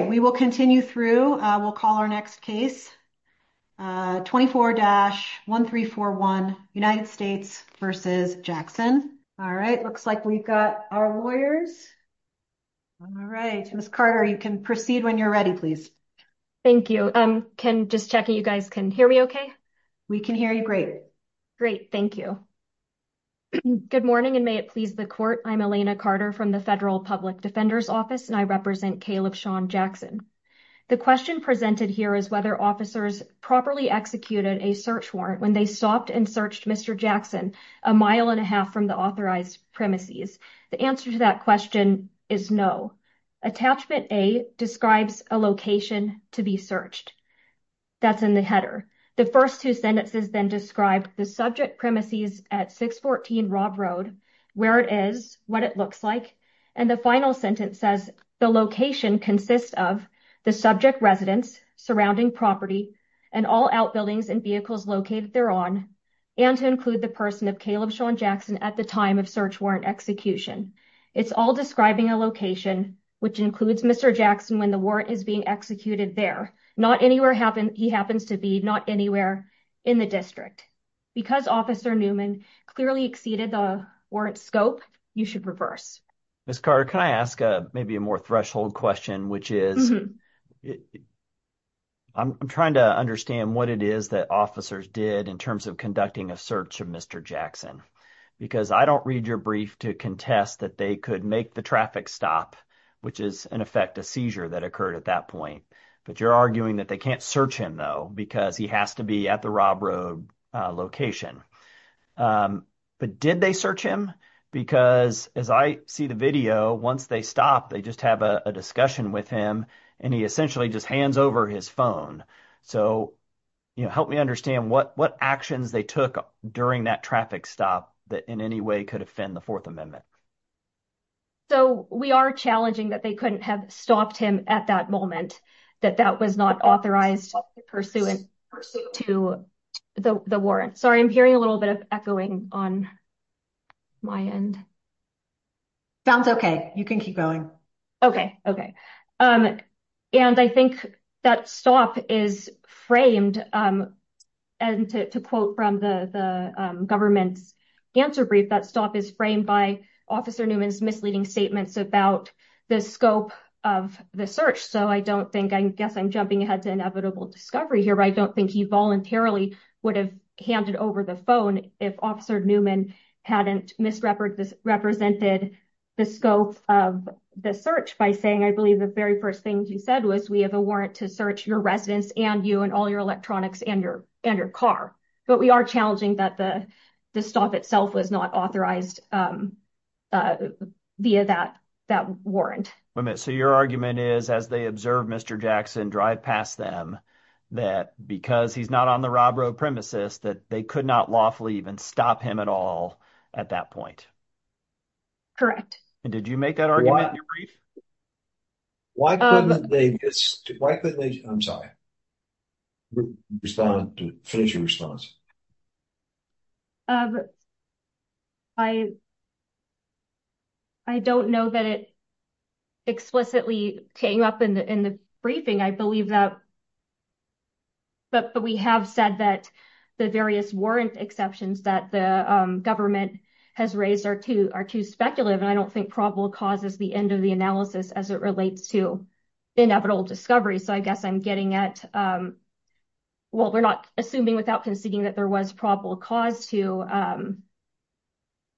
We will continue through. We'll call our next case. 24-1341 United States v. Jackson. All right. Looks like we've got our lawyers. All right. Ms. Carter, you can proceed when you're ready, please. Thank you. Just checking you guys can hear me okay? We can hear you great. Great. Thank you. Good morning and may it please the court. I'm Elena Carter from the Federal Public Defender's Office and I represent Caleb Sean Jackson. The question presented here is whether officers properly executed a search warrant when they stopped and searched Mr. Jackson a mile and a half from the authorized premises. The answer to that question is no. Attachment A describes a location to be searched. That's in the header. The first two sentences then describe the subject location consists of the subject residence, surrounding property, and all outbuildings and vehicles located thereon, and to include the person of Caleb Sean Jackson at the time of search warrant execution. It's all describing a location, which includes Mr. Jackson when the warrant is being executed there. Not anywhere he happens to be, not anywhere in the district. Because Officer Newman clearly exceeded the warrant scope, you should reverse. Ms. Carter, can I ask maybe a more threshold question, which is I'm trying to understand what it is that officers did in terms of conducting a search of Mr. Jackson because I don't read your brief to contest that they could make the traffic stop, which is in effect a seizure that occurred at that point. But you're arguing that they can't search him though because he has to be at the Rob Road location. But did they search him? Because as I see the video, once they stop, they just have a discussion with him, and he essentially just hands over his phone. So help me understand what actions they took during that traffic stop that in any way could offend the Fourth Amendment. So we are challenging that they couldn't have stopped him at that moment, that that was not authorized pursuant to the warrant. Sorry, I'm hearing a little bit of echoing on my end. Sounds okay. You can keep going. Okay. Okay. And I think that stop is framed. And to quote from the government's answer brief, that stop is framed by Officer Newman's misleading statements about the scope of the search. So I don't think, I guess I'm jumping ahead to inevitable discovery here. I don't think he voluntarily would have handed over the phone if Officer Newman hadn't misrepresented the scope of the search by saying, I believe, the very first thing he said was, we have a warrant to search your residence and you and all your electronics and your car. But we are challenging that the stop itself was not authorized via that warrant. So your argument is, as they observe Mr. Jackson drive past them, that because he's not on the Rob Rowe premises, that they could not lawfully even stop him at all at that point. Correct. And did you make that argument in your brief? I'm sorry. Finish your response. I don't know that it explicitly came up in the briefing. I believe that but we have said that the various warrant exceptions that the government has raised are too speculative. And I don't think probable cause is the end of the analysis as it relates to inevitable discovery. So I guess I'm getting at, well, we're not assuming without conceding that there was probable cause to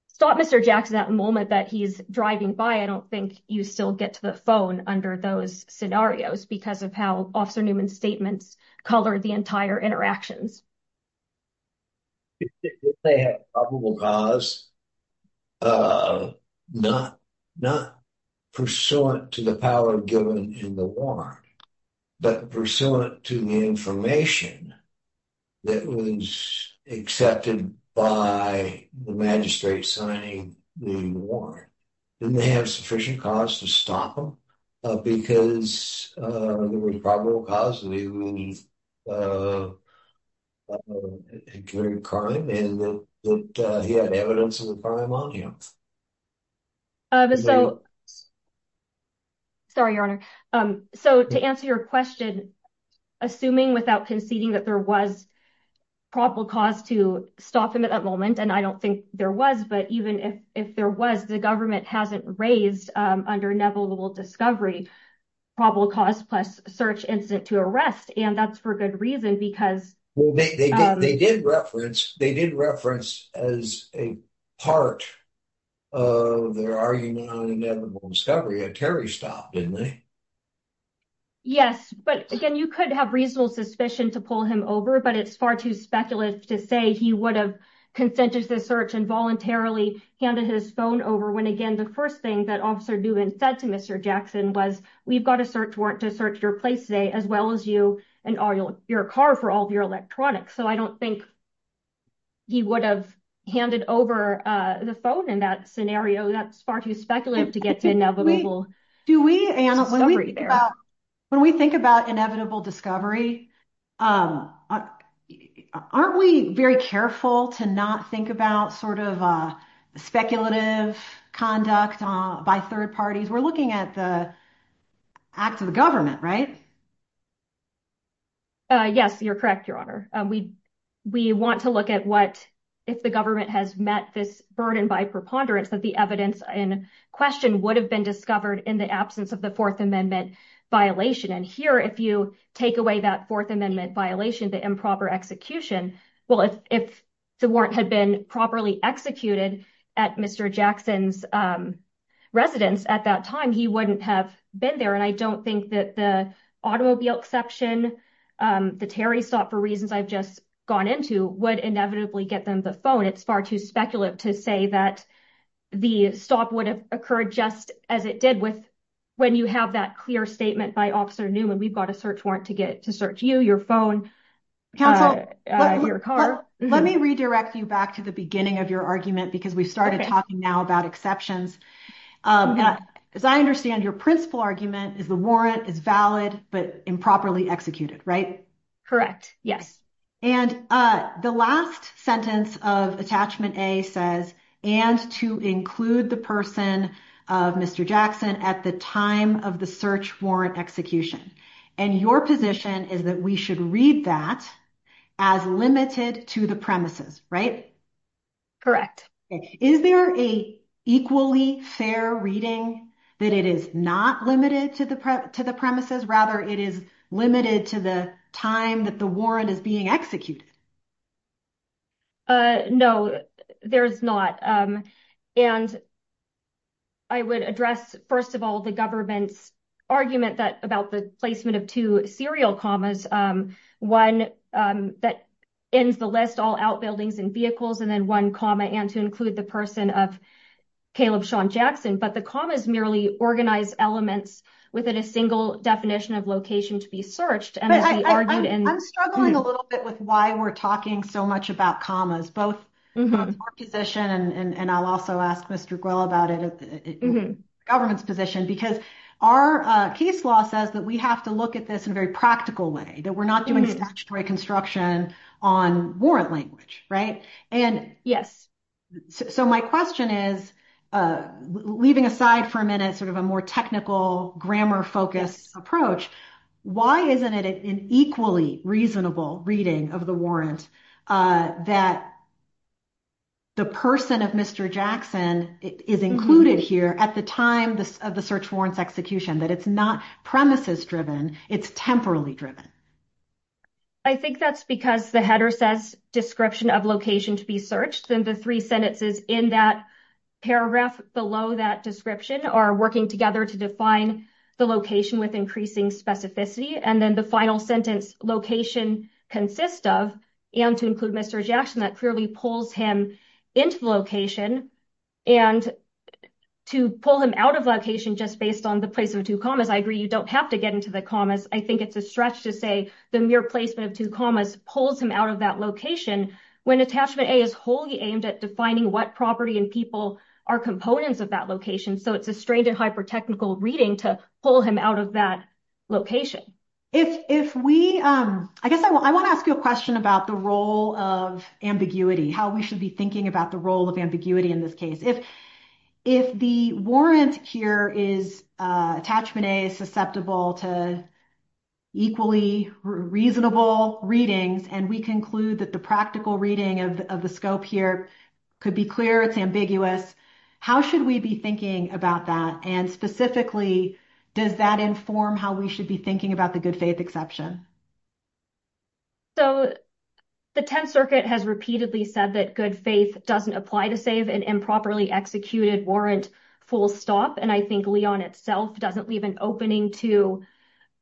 stop Mr. Jackson at the moment that he's driving by. I don't think you still get to the phone under those scenarios because of how Officer Newman's statements color the entire interactions. They have probable cause, not pursuant to the power given in the warrant, but pursuant to the information that was accepted by the magistrate signing the warrant. Didn't they have sufficient cause to stop him? Because there was probable cause that he committed a crime and that he had evidence of the crime on him. Sorry, Your Honor. So to answer your question, assuming without conceding that there was probable cause to stop him at that moment, and I don't think there was, but even if there was, the government hasn't raised under inevitable discovery probable cause plus search incident to arrest. And that's for good reason because- They did reference as a part of their argument on inevitable discovery that Terry stopped, didn't they? Yes, but again, you could have reasonable suspicion to pull him over, but it's far too speculative to say he would have consented to the search and voluntarily handed his phone over when again the first thing that Officer Newman said to Mr. Jackson was, we've got a search warrant to search your place today as well as your car for all of your electronics. So I don't think he would have handed over the phone in that scenario. That's far too speculative to get to Do we, Anna, when we think about inevitable discovery, aren't we very careful to not think about sort of speculative conduct by third parties? We're looking at the act of the government, right? Yes, you're correct, Your Honor. We want to look at what if the government has met this burden by preponderance that the evidence in question would have been discovered in the absence of the Fourth Amendment violation. And here, if you take away that Fourth Amendment violation, the improper execution, well, if the warrant had been properly executed at Mr. Jackson's residence at that time, he wouldn't have been there. And I don't think that the automobile exception, the Terry stop for reasons I've just gone into would inevitably get them the phone. It's far too speculative to say that the stop would have occurred just as it did with when you have that clear statement by Officer Newman. We've got a search warrant to search you, your phone, your car. Let me redirect you back to the beginning of your argument because we've started talking now about exceptions. As I understand, your principal argument is the warrant is valid but improperly executed, right? Correct, yes. And the last sentence of Attachment A says, and to include the person of Mr. Jackson at the time of the search warrant execution. And your position is that we should read that as limited to the premises, right? Correct. Is there a equally fair reading that it is not limited to the premises, rather it is limited to the time that the warrant is being executed? No, there's not. And I would address, first of all, the government's argument about the placement of two serial commas. One that ends the list, all outbuildings and vehicles, and then one comma, and to include the person of Caleb Shawn Jackson. But the commas merely organize elements within a definition of location to be searched. I'm struggling a little bit with why we're talking so much about commas, both our position, and I'll also ask Mr. Guil about it, government's position. Because our case law says that we have to look at this in a very practical way, that we're not doing statutory construction on warrant language, right? Yes. So my question is, leaving aside for a minute, sort of a more technical, grammar-focused approach, why isn't it an equally reasonable reading of the warrant that the person of Mr. Jackson is included here at the time of the search warrant's execution? That it's not premises-driven, it's temporally driven. I think that's because the header says description of location to be searched, then the three sentences in that paragraph below that description are working together to define the location with increasing specificity, and then the final sentence, location consists of, and to include Mr. Jackson, that clearly pulls him into the location, and to pull him out of location just based on the placement of two commas, I agree you don't have to get into the commas, I think it's a stretch to say the mere placement of two commas pulls him out of that location, when attachment A is wholly aimed at defining what property and people are components of that location, so it's a strained and hyper-technical reading to pull him out of that location. If we, I guess I want to ask you a question about the role of ambiguity, how we should be thinking about the role of ambiguity in this case. If the warrant here is, attachment A is susceptible to equally reasonable readings, and we conclude that the practical reading of the scope here could be clear, it's ambiguous, how should we be thinking about that, and specifically does that inform how we should be thinking about the good faith exception? So the Tenth Circuit has repeatedly said that good faith doesn't apply to save an improperly executed warrant full stop, and I think Leon itself doesn't leave an opening to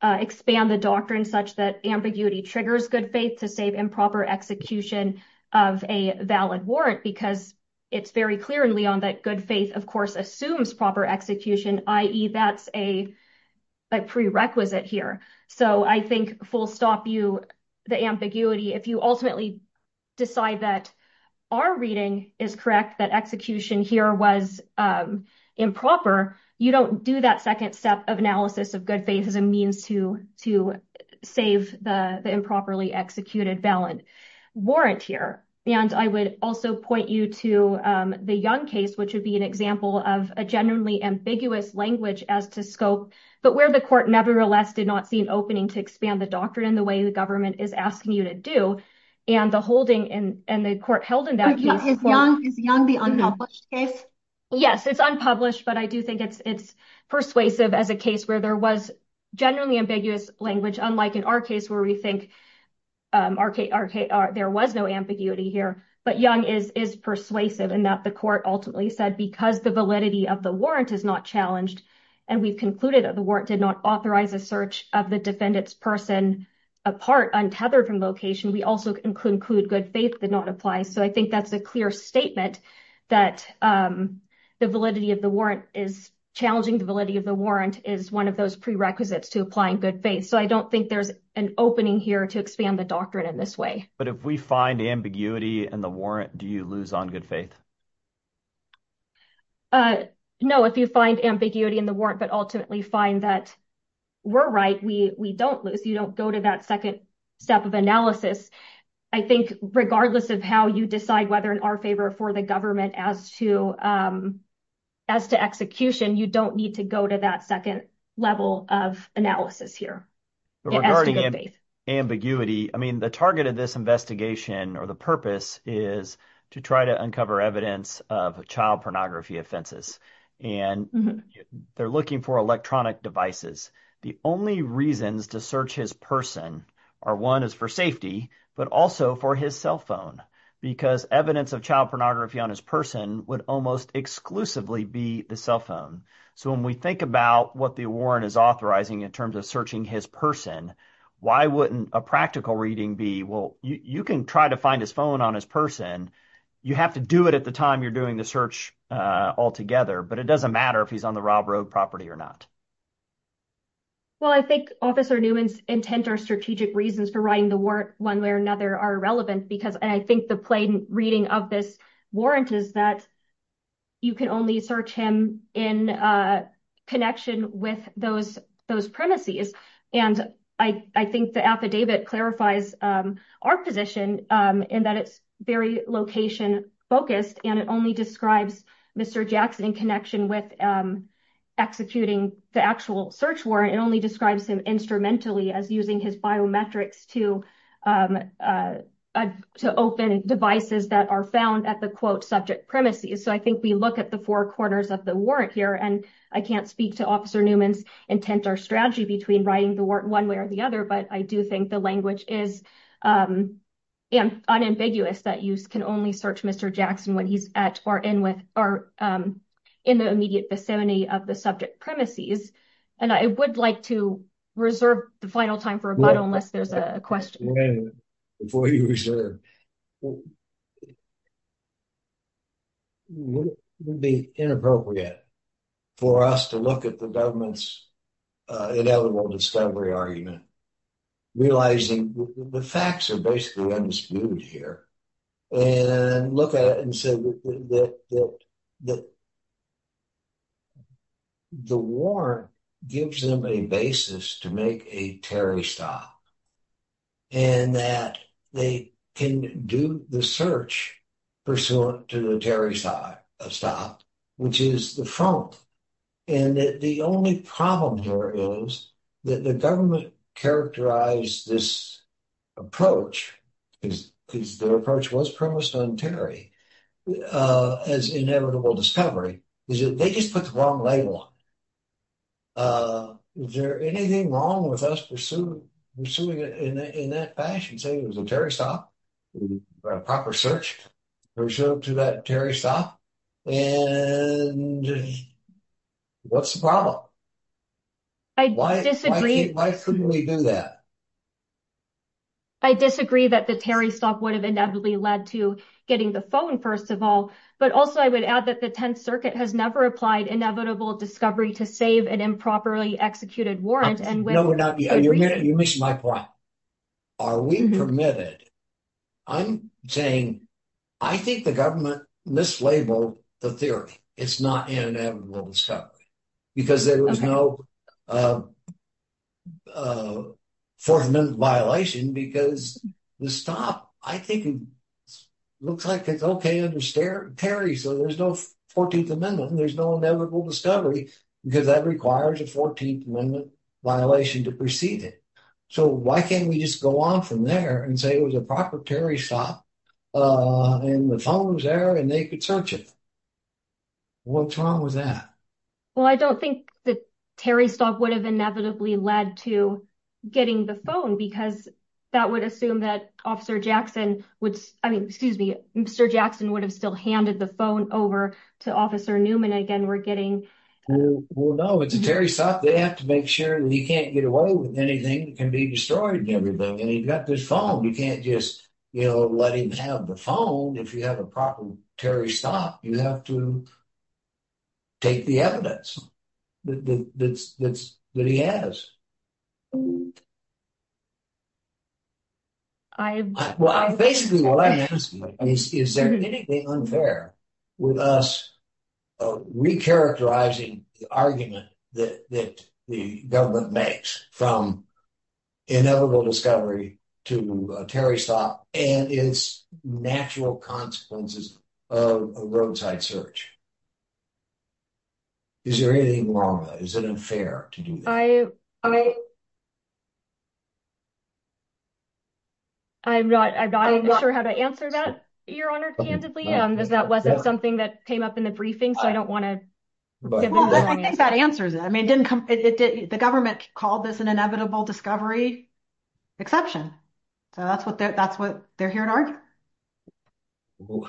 expand the doctrine such that ambiguity triggers good faith to save improper execution of a valid warrant, because it's very clear in Leon that good faith of course assumes proper execution, i.e. that's a prerequisite here, so I think full stop you, the ambiguity, if you decide that our reading is correct, that execution here was improper, you don't do that second step of analysis of good faith as a means to save the improperly executed valid warrant here, and I would also point you to the Young case, which would be an example of a generally ambiguous language as to scope, but where the court nevertheless did not see an opening to expand the doctrine in the way the government is asking you to do, and the holding and the court held in that case. Is Young the unpublished case? Yes, it's unpublished, but I do think it's persuasive as a case where there was generally ambiguous language, unlike in our case where we think there was no ambiguity here, but Young is persuasive in that the court ultimately said because the validity of the warrant is not challenged, and we've concluded that the warrant did not authorize a search of the defendant's person apart, untethered from location, we also conclude good faith did not apply, so I think that's a clear statement that the validity of the warrant is challenging the validity of the warrant is one of those prerequisites to apply in good faith, so I don't think there's an opening here to expand the doctrine in this way. But if we find ambiguity in the warrant, do you lose on good faith? No, if you find ambiguity in the warrant, but ultimately find that we're right, we don't lose, you don't go to that second step of analysis. I think regardless of how you decide whether in our favor or for the government as to execution, you don't need to go to that second level of analysis here. Regarding ambiguity, I mean the target of this investigation or the purpose is to try to uncover evidence of child pornography offenses, and they're looking for electronic devices. The only reasons to search his person are one is for safety, but also for his cell phone because evidence of child pornography on his person would almost exclusively be the cell phone. So when we think about what the warrant is authorizing in terms of searching his person, why wouldn't a practical reading be, well, you can try to find his phone on his person, you have to do it at the time you're doing the search altogether, but it doesn't matter if he's on the Rob Road property or not. Well, I think Officer Newman's intent or strategic reasons for writing the warrant one way or another are irrelevant because I think the plain reading of this warrant is that you can only search him in connection with those premises. And I think the affidavit clarifies our position in that it's very location focused and it only describes Mr. Jackson in connection with executing the actual search warrant. It only describes him instrumentally as using his biometrics to open devices that are found at the quote subject premises. So I think we look at the four corners of the warrant here and I can't speak to Officer Newman's intent or strategy between writing the warrant one way or the other, but I do think the language is unambiguous that you can only search Mr. Jackson when he's at or in the immediate vicinity of the subject premises. And I would like to reserve the final time for rebuttal unless there's a question. Wait a minute before you reserve. It would be inappropriate for us to look at the government's inevitable discovery argument realizing the facts are basically undisputed here and look at it and that the warrant gives them a basis to make a Terry stop and that they can do the search pursuant to the Terry stop, which is the front. And the only problem here is that the government characterized this approach, because their approach was premised on Terry as inevitable discovery, is that they just put the wrong label on it. Is there anything wrong with us pursuing it in that fashion, saying it was a Terry stop, a proper search pursuant to Terry stop? And what's the problem? Why couldn't we do that? I disagree that the Terry stop would have inevitably led to getting the phone, first of all, but also I would add that the Tenth Circuit has never applied inevitable discovery to save an improperly executed warrant. You missed my point. Are we permitted? I'm saying, I think the government mislabeled the theory. It's not an inevitable discovery because there was no 14th Amendment violation because the stop, I think, looks like it's okay under Terry, so there's no 14th Amendment. There's no inevitable discovery because that requires a 14th Amendment violation to precede it. So why can't we just go on from there and say it was a Terry stop and the phone was there and they could search it? What's wrong with that? Well, I don't think the Terry stop would have inevitably led to getting the phone because that would assume that Officer Jackson would, I mean, excuse me, Mr. Jackson would have still handed the phone over to Officer Newman again. Well, no, it's a Terry stop. They have to make sure that he can't get away with anything that destroyed everything and he's got this phone. You can't just let him have the phone if you have a proper Terry stop. You have to take the evidence that he has. Well, basically what I'm asking is, is there anything unfair with us recharacterizing the argument that the government makes from inevitable discovery to a Terry stop and its natural consequences of a roadside search? Is there anything wrong with that? Is it unfair to do that? I'm not sure how to answer that, Your Honor, candidly, because that wasn't something that came up in the briefing, so I don't want to... Well, I think that answers it. I mean, the government called this an inevitable discovery exception, so that's what they're hearing. Well,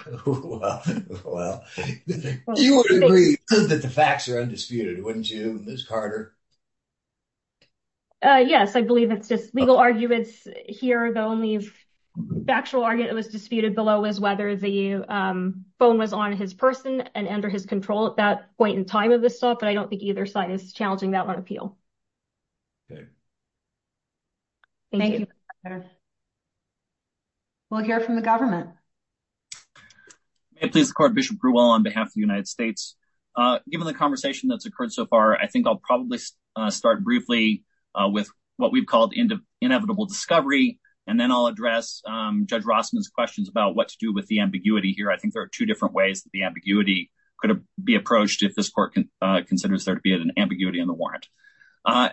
you would agree that the facts are undisputed, wouldn't you, Ms. Carter? Yes, I believe it's just legal arguments here. The only factual argument that was disputed below was whether the phone was on his person and under his control at that point in time of this stuff, but I don't think either side is challenging that on appeal. Thank you, Ms. Carter. We'll hear from the government. May it please the court, Bishop Bruwell on behalf of the United States. Given the conversation that's occurred so far, I think I'll probably start briefly with what we've called inevitable discovery, and then I'll address Judge Rossman's questions about what to do with the ambiguity here. I think there are two different ways that the ambiguity could be approached if this court considers there to be an ambiguity in the warrant.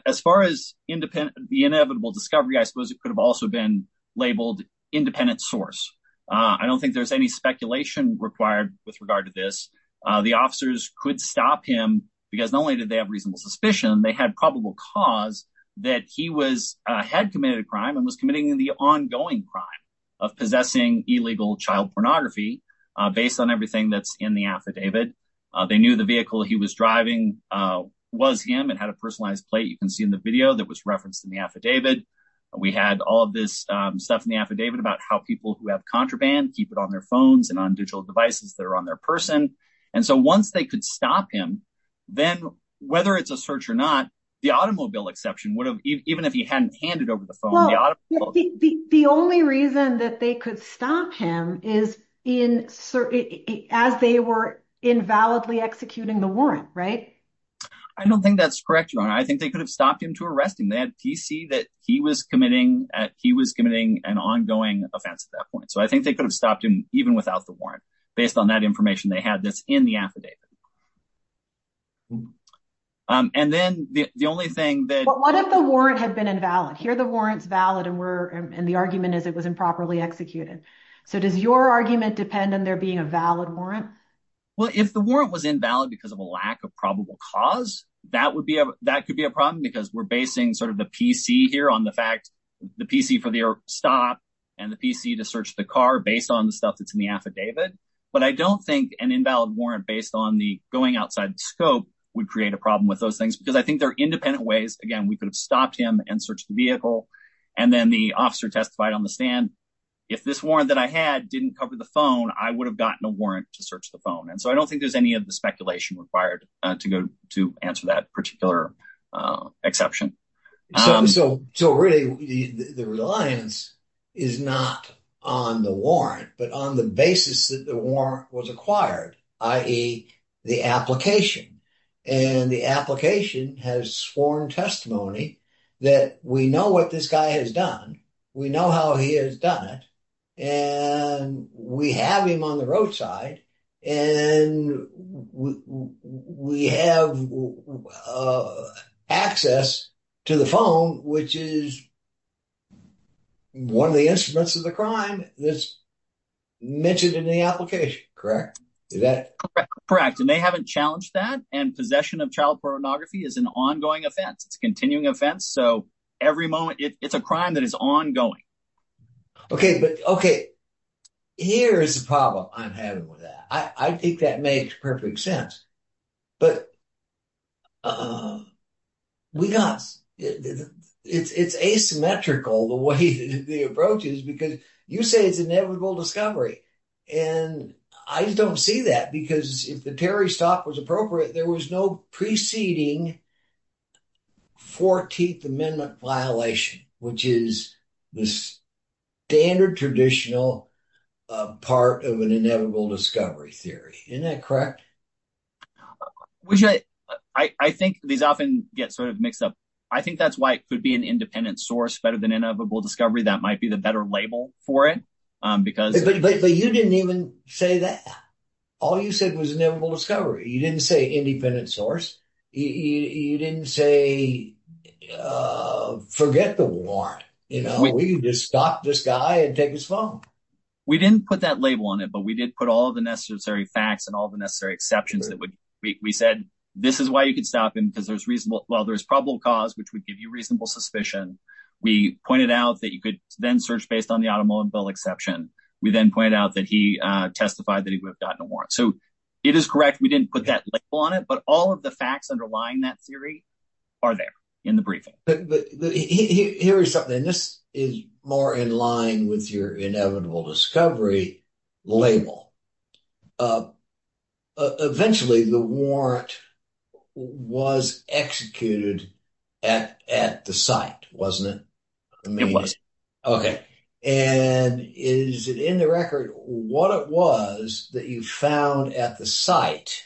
As far as the inevitable discovery, I suppose it could have also been labeled independent source. I don't think there's any speculation required with regard to this. The officers could stop him because not only did they have reasonable suspicion, they had probable cause that he had committed a crime and was committing the ongoing crime of possessing illegal child pornography based on everything that's in the affidavit. They knew the vehicle he was driving was him and had a personalized plate you can see in the video that was referenced in the affidavit. We had all of this stuff in the affidavit about how people who have contraband keep it on their phones and on digital devices that are on their person, and so once they could stop him, then whether it's a search or not, the automobile exception would have, even if he hadn't handed over the phone, the only reason that they could stop him is as they were invalidly executing the warrant, right? I don't think that's correct, Your Honor. I think they could have stopped him to arrest him. They had PC that he was committing an ongoing offense at that point, so I think they could have stopped him even without the warrant based on that information they had that's in the affidavit. And then the only thing that... But what if the warrant had been invalid? Here the warrant's valid and the argument is it was improperly executed, so does your argument depend on there being a valid warrant? Well, if the warrant was invalid because of a lack of probable cause, that could be a problem because we're basing sort of the PC here on the fact, the PC for the stop and the PC to search the car based on the stuff that's in the affidavit, but I don't think an invalid warrant based on the going outside the scope would create a problem with those things because I think there are independent ways, again, we could have stopped and searched the vehicle and then the officer testified on the stand, if this warrant that I had didn't cover the phone, I would have gotten a warrant to search the phone and so I don't think there's any of the speculation required to go to answer that particular exception. So really the reliance is not on the warrant but on the basis that the warrant was acquired, i.e., the application, and the application has sworn testimony that we know what this guy has done, we know how he has done it, and we have him on the roadside and we have access to the phone which is one of the instruments of the crime that's mentioned in the application, correct? Correct, correct, and they haven't challenged that and possession of child pornography is an ongoing offense, it's a continuing offense, so every moment it's a crime that is ongoing. Okay, but okay, here's the problem I'm having with that, I think that makes perfect sense, but we got, it's asymmetrical the way the approach is because you say it's inevitable discovery and I just don't see that because if the Terry stop was appropriate there was no preceding 14th amendment violation which is the standard traditional part of an inevitable discovery theory, isn't that correct? Which I think these often get sort of mixed up, I think that's why it could be an independent source better than inevitable discovery, that might be the better label for it. But you didn't even say that, all you said was inevitable discovery, you didn't say independent source, you didn't say forget the warrant, you know, we can just stop this guy and take his phone. We didn't put that label on it but we did put all the necessary facts and all the necessary exceptions that would, we said this is why you could stop him because there's reasonable, well, there's probable cause which would give you reasonable suspicion, we pointed out that you could then search based on the automobile exception, we then point out that he testified that he would have gotten a warrant, so it is correct we didn't put that label on it but all of the facts underlying that theory are there in the briefing. Here is something, this is more in with your inevitable discovery label, eventually the warrant was executed at the site, wasn't it? It was. Okay, and is it in the record what it was that you found at the site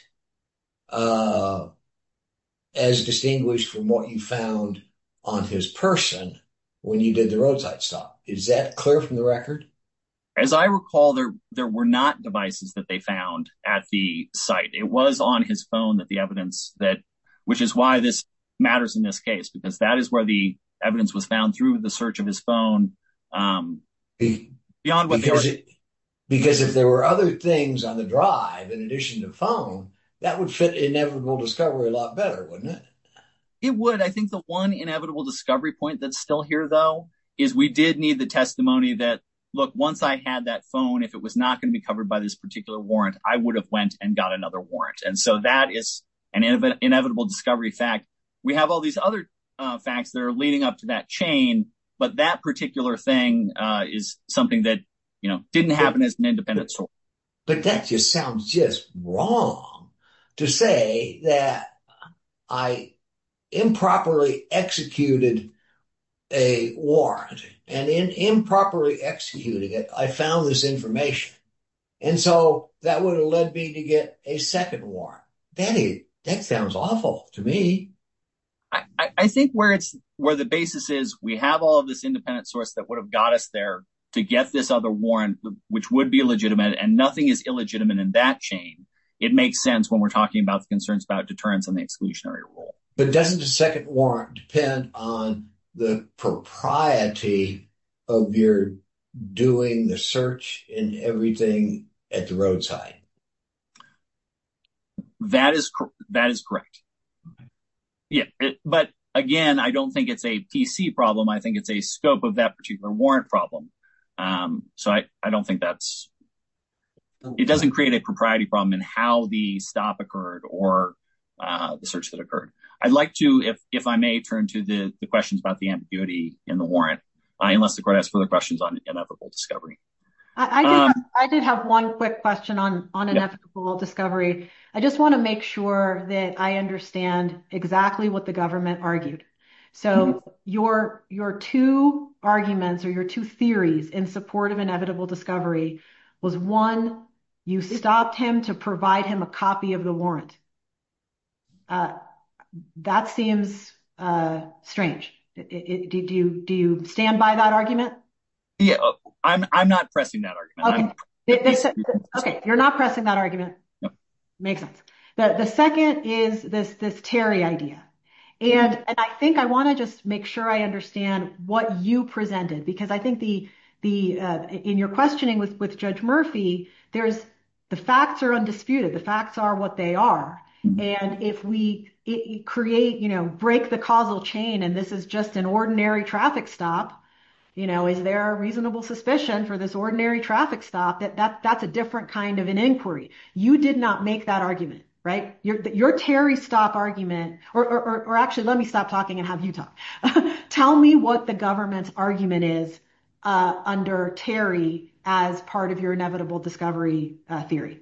as distinguished from what you found on his person when you did the roadside stop, is that clear from the record? As I recall there were not devices that they found at the site, it was on his phone that the evidence that, which is why this matters in this case because that is where the evidence was found through the search of his phone. Because if there were other things on the drive in addition to phone, that would fit inevitable discovery a lot better, wouldn't it? It would, I think the one inevitable discovery point that's still here though is we did need the testimony that, look, once I had that phone, if it was not going to be covered by this particular warrant, I would have went and got another warrant and so that is an inevitable discovery fact. We have all these other facts that are leading up to that chain but that particular thing is something that didn't happen as an independent source. But that just sounds just wrong to say that I improperly executed a warrant and in improperly executing it, I found this information and so that would have led me to get a second warrant. That sounds awful to me. I think where the basis is, we have all this independent source that would have got us there to get this other warrant which would be legitimate and nothing is illegitimate in that chain. It makes sense when we're talking about the concerns about deterrence on the exclusionary rule. But doesn't a second warrant depend on the propriety of your doing the search and everything at the roadside? That is correct. Yeah, but again, I don't think it's a PC problem. I think it's a scope of that warrant problem. So I don't think that's, it doesn't create a propriety problem in how the stop occurred or the search that occurred. I'd like to, if I may, turn to the questions about the ambiguity in the warrant unless the court has further questions on inevitable discovery. I did have one quick question on inevitable discovery. I just want to make sure that I understand exactly what the government argued. So your two arguments or your two theories in support of inevitable discovery was one, you stopped him to provide him a copy of the warrant. That seems strange. Do you stand by that argument? Yeah, I'm not pressing that argument. Okay, you're not pressing that argument. Makes sense. The second is this Terry idea. And I think I want to just make sure I understand what you presented because I think in your questioning with Judge Murphy, the facts are undisputed. The facts are what they are. And if we create, break the causal chain and this is just an ordinary traffic stop, is there a reasonable suspicion for this ordinary traffic stop that that's a different kind of an inquiry? You did not make that argument, right? Your Terry stop argument, or actually, let me stop talking and have you talk. Tell me what the government's argument is under Terry as part of your inevitable discovery theory.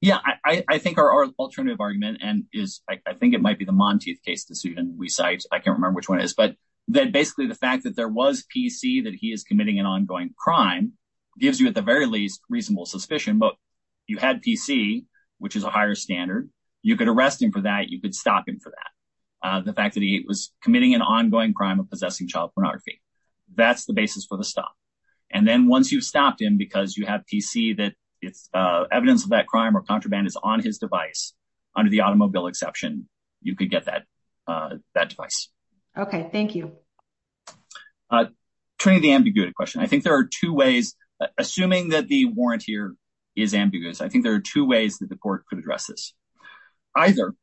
Yeah, I think our alternative argument and is, I think it might be the Monteith case decision we cite. I can't remember which one is, but that basically the fact that there was PC that he is committing an ongoing crime gives you at the very least reasonable suspicion. But you had PC, which is a higher standard. You could arrest him for that. You could stop him for that. The fact that he was committing an ongoing crime of possessing child pornography. That's the basis for the stop. And then once you've stopped him, because you have PC that it's evidence of that crime or contraband is on his device, under the automobile exception, you could get that that device. OK, thank you. Turning the ambiguity question, I think there are two ways, assuming that the warrant here is ambiguous. I think there are two ways that the court could address this either.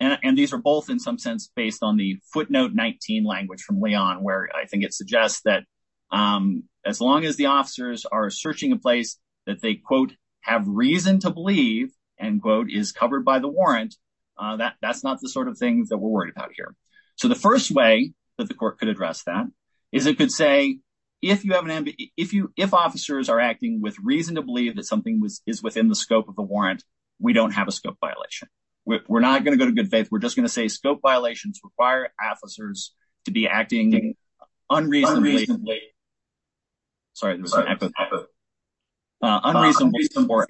And these are both, in some sense, based on the footnote 19 language from Leon, where I think it suggests that as long as the officers are searching a place that they, quote, have reason to believe, end quote, is covered by the warrant, that that's not the sort of thing that we're worried about here. So the first way that the court could address that is it could say, if you have an if you if officers are acting with reason to believe that something is within the scope of the warrant, we don't have a scope violation. We're not going to go to good faith. We're just going to say scope violations require officers to be acting unreasonably. Sorry. There's an epithet. Unreasonable support.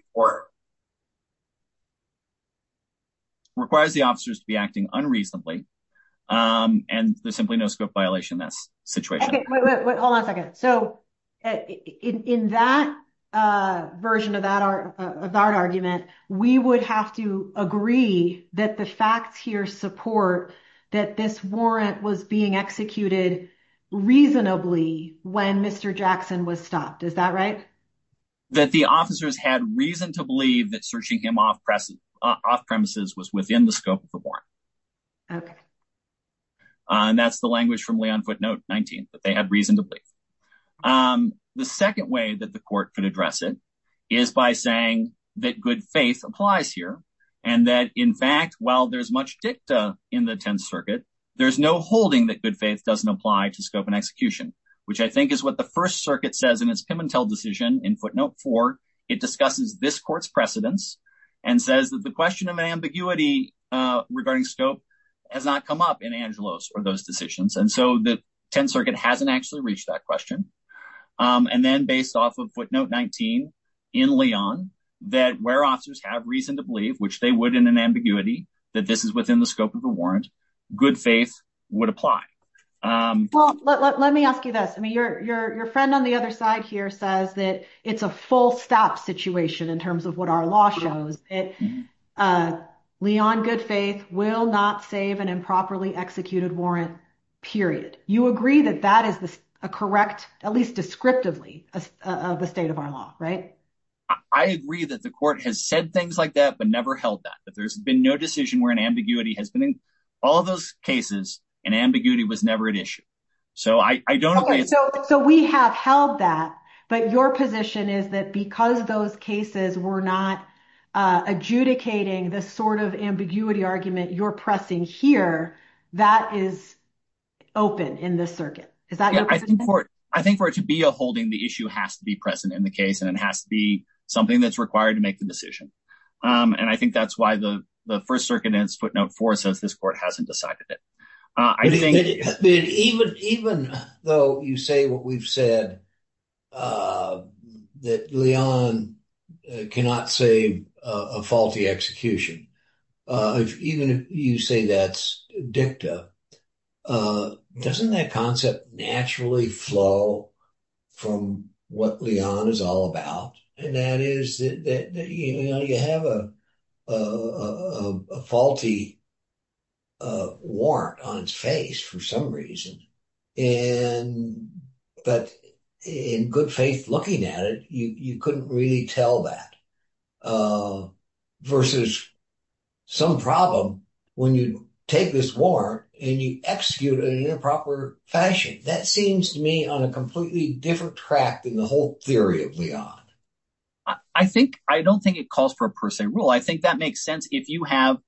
Requires the officers to be acting unreasonably and there's simply no scope violation in this situation. Hold on a second. So in that version of that argument, we would have to agree that the facts here support that this warrant was being executed reasonably when Mr. Jackson was stopped. Is that right? That the officers had reason to believe that searching him off press off premises was within the scope of the warrant. OK. And that's the language from Leon footnote 19, that they had reason to believe. The second way that the court could address it is by saying that good faith applies here and that, in fact, while there's much dicta in the 10th Circuit, there's no holding that good faith doesn't apply to scope and execution, which I think is what the First Circuit says in its Pimentel decision in footnote four. It discusses this court's precedence and says that the question of ambiguity regarding scope has not come up in Angelos or those decisions. And so the 10th Circuit hasn't actually reached that question. And then based off of footnote 19 in Leon, that where officers have reason to believe, which they would in an ambiguity, that this is within the scope of the warrant, good faith would apply. Well, let me ask you this. I mean, your friend on the other side here says that it's a full stop situation in terms of what our law shows it. Leon, good faith will not save an improperly executed warrant, period. You agree that that is a correct, at least descriptively, the state of our law, right? I agree that the court has said things like that, but never held that, that there's been no decision where an ambiguity has been in all of those cases and ambiguity was never an issue. So I don't agree. So we have held that. But your position is that because those cases were not adjudicating the sort of ambiguity argument you're pressing here, that is open in this circuit. Is that your position? I think for it to be a holding, the issue has to be present in the case and it has to be something that's required to make the decision. And I think that's why the 1st Circuit in its footnote 4 says this court hasn't decided it. Even though you say what we've said, that Leon cannot save a faulty execution, even if you say that's dicta, doesn't that concept naturally flow from what Leon is all about? And that is that you have a faulty warrant on its face for some reason, but in good faith looking at it, you couldn't really tell that versus some problem when you take this warrant and you execute it in an improper fashion. That seems to me on a completely different track than the whole theory of Leon. I don't think it calls for a per se rule. I think that makes sense if you have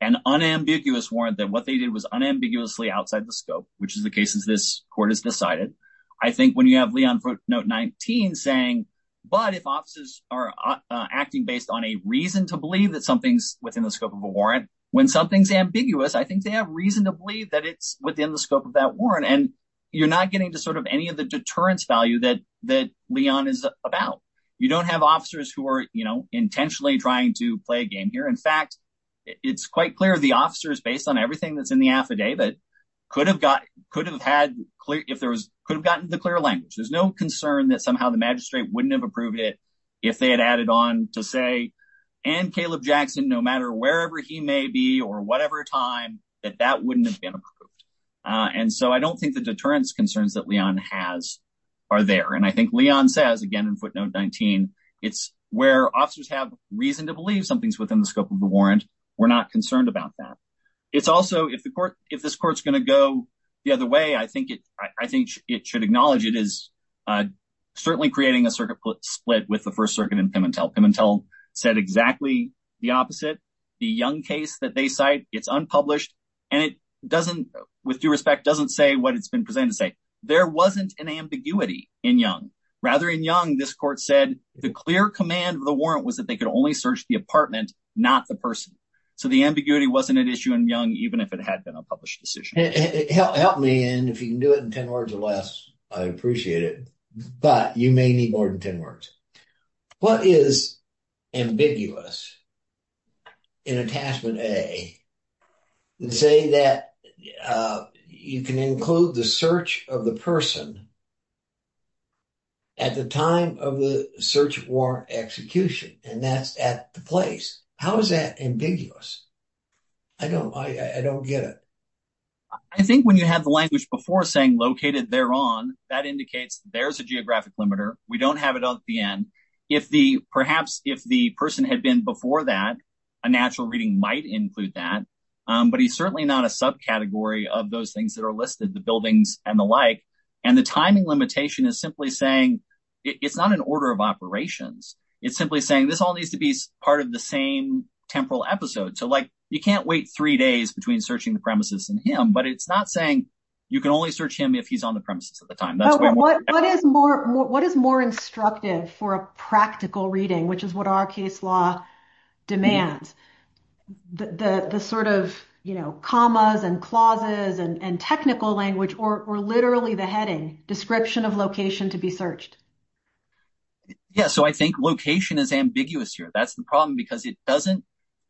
an unambiguous warrant that what they did was unambiguously outside the scope, which is the cases this court has decided. I think when you have Leon footnote 19 saying, but if officers are acting based on a reason to believe that something's within the scope of a warrant, when something's ambiguous, I think they have reason to believe that it's within the scope of that warrant. And you're not getting to sort of any of the deterrence value that Leon is about. You don't have officers who are intentionally trying to play a game here. In fact, it's quite clear the officers based on everything that's in the affidavit could have gotten the clear language. There's no concern that somehow the magistrate wouldn't have approved it if they had added on to say and Caleb Jackson, no matter wherever he may be or whatever time that that wouldn't have been approved. And so I don't think the deterrence concerns that Leon has are there. And I think Leon says again, in footnote 19, it's where officers have reason to believe something's within the scope of the warrant. We're not concerned about that. It's also if the court, if this court's going to go the other way, I think it, I think it should acknowledge it is certainly creating a circuit split with the first circuit in Pimentel. Pimentel said exactly the opposite. The Young case that they cite, it's unpublished and it doesn't, with due respect, doesn't say what it's been presented to say. There wasn't an ambiguity in Young. Rather in Young, this court said the clear command of the warrant was that they could only search the apartment, not the person. So the ambiguity wasn't an issue in Young, even if it had been a published decision. Help me and if you can do it in 10 words or less, I appreciate it, but you may need more than 10 words. What is ambiguous in Attachment A that say that you can include the search of the person at the time of the search warrant execution and that's at the place? How is that ambiguous? I don't, I don't get it. I think when you have the language before saying located thereon, that indicates there's a geographic limiter. We don't have it at the end. Perhaps if the person had been before that, a natural reading might include that, but he's certainly not a subcategory of those things that are listed, the buildings and the like. And the timing limitation is simply saying it's not an order of operations. It's simply saying this all needs to be part of the same temporal episode. So like you can't wait three days between searching the premises and him, but it's not saying you can only search him if he's on the premises at the time. What is more, what is more instructive for a practical reading, which is what our case law demands. The sort of, you know, commas and clauses and technical language or literally the heading description of location to be searched. Yeah. So I think location is ambiguous here. That's the problem because it doesn't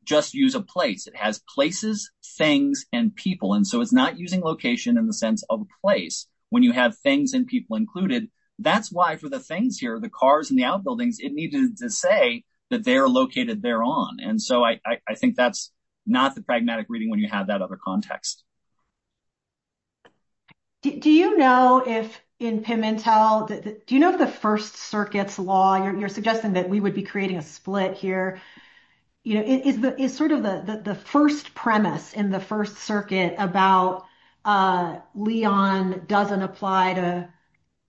just use a place. It has places, things, and people. And so it's not using location in the sense of a place when you have things and people included. That's why for the things here, the cars and the outbuildings, it needed to say that they're located thereon. And so I think that's not the pragmatic reading when you have that other context. Do you know if in Pimentel, do you know if the first circuits law, you're suggesting that we would be creating a split here, you know, is sort of the first premise in the first circuit about Leon doesn't apply to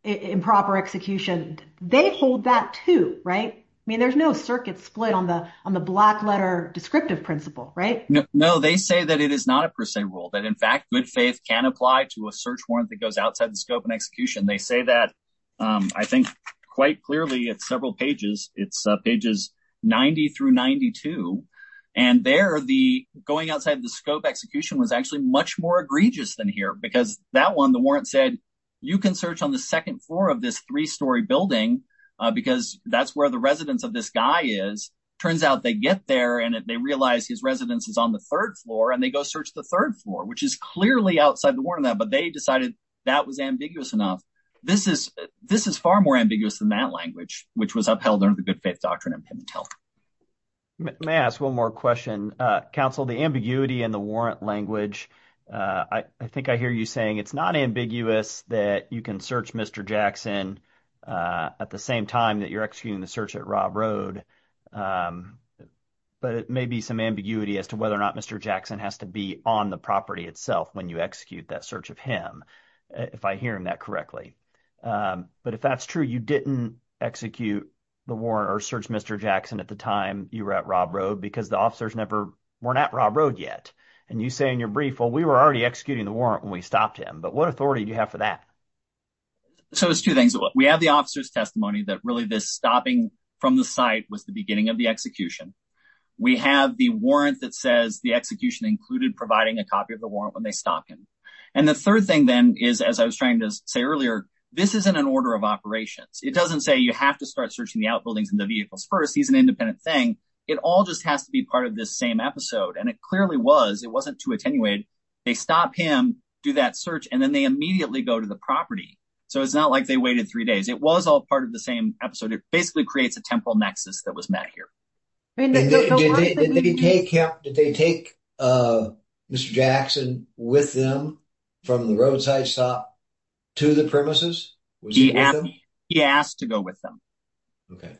improper execution. They hold that too, right? I mean, there's no circuit split on the on the black letter descriptive principle, right? No, they say that it is not a per se rule, that in fact, good faith can apply to a search warrant that goes outside the scope and execution. They say that, I think, quite clearly at several pages, it's pages 90 through 92. And there the going outside the scope execution was actually much more egregious than here because that one, the warrant said, you can search on the second floor of this three story building, because that's where the residence of this guy is. Turns out they get there and they realize his residence is on the third floor and they go search the third floor, which is clearly outside the warrant on that. But they decided that was ambiguous enough. This is this is far more ambiguous than that language, which was upheld under the good faith doctrine in Pimentel. May I ask one more question, counsel, the ambiguity in the warrant language. I think I hear you saying it's not ambiguous that you can search Mr. Jackson at the same time that you're executing the search at Rob Road. But it may be some ambiguity as to whether or not Mr. Jackson has to be on the property itself when you execute that search of him, if I hear that correctly. But if that's true, you didn't execute the warrant or search Mr. Jackson at the time you were at Rob Road because the officers never were at Rob Road yet. And you say in your brief, well, we were already executing the warrant when we stopped him. But what authority do you have for that? So it's two things. We have the officer's testimony that really this stopping from the site was the beginning of the execution. We have the warrant that says the execution included providing a copy of the warrant when they stop him. And the third thing, then, is, as I was trying to say earlier, this isn't an order of operations. It doesn't say you have to start searching the outbuildings and the vehicles first. He's an independent thing. It all just has to be part of this same episode. And it clearly was. It wasn't too attenuated. They stop him, do that search, and then they immediately go to the property. So it's not like they waited three days. It was all part of the same episode. It basically creates a temporal nexus that was met here. Did they take Mr. Jackson with them from the roadside stop to the premises? He asked to go with them. Okay.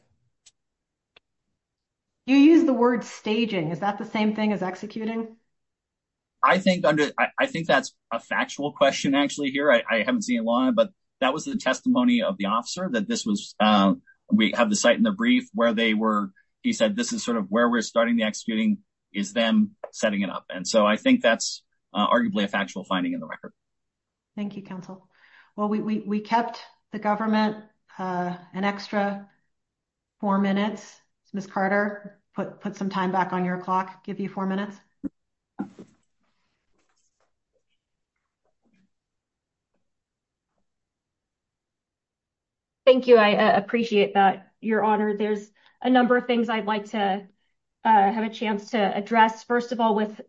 You use the word staging. Is that the same thing as executing? I think that's a factual question actually here. I haven't seen it live, but that was the testimony of the officer that we have the site in the brief where he said this is sort of where we're starting the executing is them setting it up. And so I think that's arguably a factual finding in the record. Thank you, counsel. Well, we kept the government an extra four minutes. Ms. Carter, put some time back on your clock. Give you four minutes. Thank you. I appreciate that, Your Honor. There's a number of things I'd like to have a chance to address. First of all, with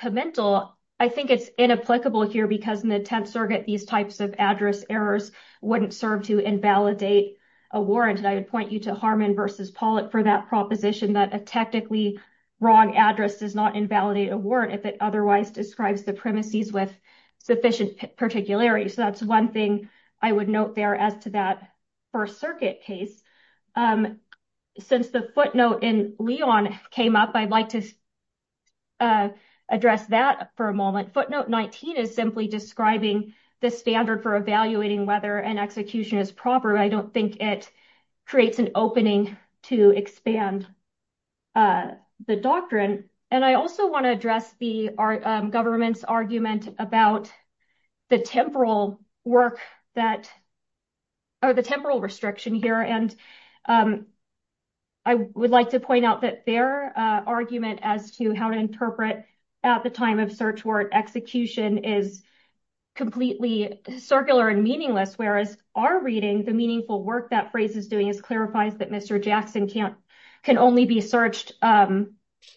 Pimentel, I think it's inapplicable here because in the 10th Circuit, these types of address errors wouldn't serve to invalidate a warrant. And I would point you to Harmon versus Pollitt for that proposition that a technically wrong address does not invalidate a warrant if it otherwise describes the premises with sufficient evidence. And I think that's particularly so. That's one thing I would note there as to that first circuit case. Since the footnote in Leon came up, I'd like to address that for a moment. Footnote 19 is simply describing the standard for evaluating whether an execution is proper. I don't think it creates an opening to expand the doctrine. And I also want to address the government's argument about the temporal work that, or the temporal restriction here. And I would like to point out that their argument as to how to interpret at the time of search warrant execution is completely circular and meaningless. Whereas our reading, the meaningful work that phrase is doing is clarifies that Mr. Jackson can only be searched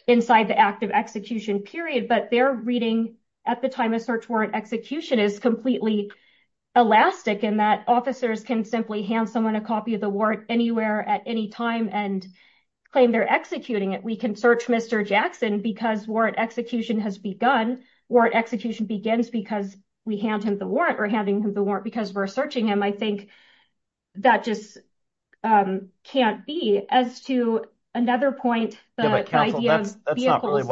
inside the active execution period. But their reading at the time of search warrant execution is completely elastic in that officers can simply hand someone a copy of the warrant anywhere at any time and claim they're executing it. We can search Mr. Jackson because warrant execution has begun. Warrant execution begins because we hand him the warrant or handing him the warrant because we're searching him. I think that just can't be. As to another point, the idea of vehicles-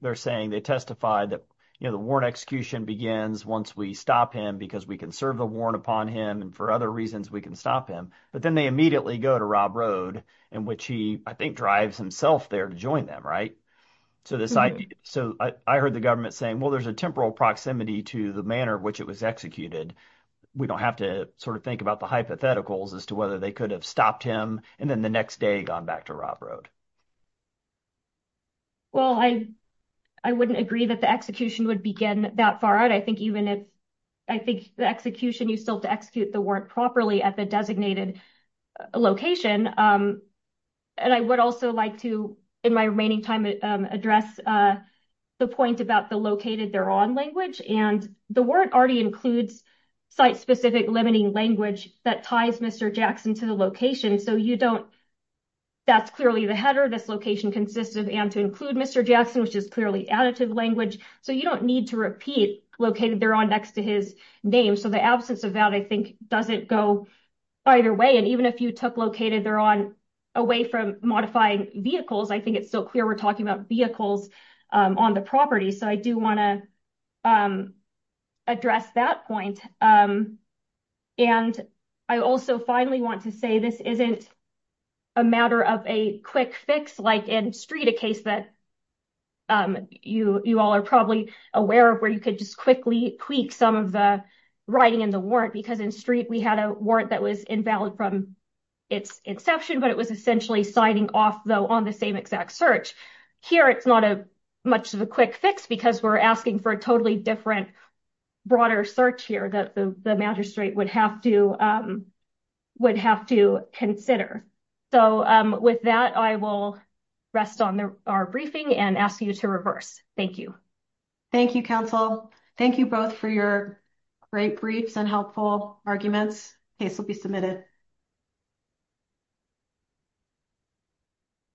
they're saying they testified that the warrant execution begins once we stop him because we can serve the warrant upon him. And for other reasons, we can stop him. But then they immediately go to Rob Road in which he, I think, drives himself there to join them. So I heard the government saying, well, there's a temporal proximity to the manner in which it was executed. We don't have to sort of think about the hypotheticals as to whether they could have stopped him and then the next day gone back to Rob Road. Well, I wouldn't agree that the execution would begin that far out. I think even if- I think the execution, you still have to execute the warrant properly at the designated location. And I would also like to, in my remaining time, address the point about the located thereon language. And the warrant already includes site-specific limiting language that ties Mr. Jackson to the location. So you don't- that's clearly the header. This location consists of and to include Mr. Jackson, which is clearly additive language. So you don't need to repeat located thereon next to his name. So the absence of that, I think, doesn't go either way. And even if you took located thereon away from modifying vehicles, I think it's still clear we're talking about vehicles on the property. So I do want to address that point. And I also finally want to say this isn't a matter of a quick fix, like in Street, a case that you all are probably aware of where you could just quickly tweak some of the writing in the warrant. Because in Street, we had a warrant that was invalid from its inception, but it was essentially signing off, though, on the same exact search. Here, it's not much of a quick fix because we're asking for a totally different, broader search here that the magistrate would have to consider. So with that, I will rest on our briefing and ask you to reverse. Thank you. Thank you, counsel. Thank you both for your great briefs and helpful arguments. Case will be submitted.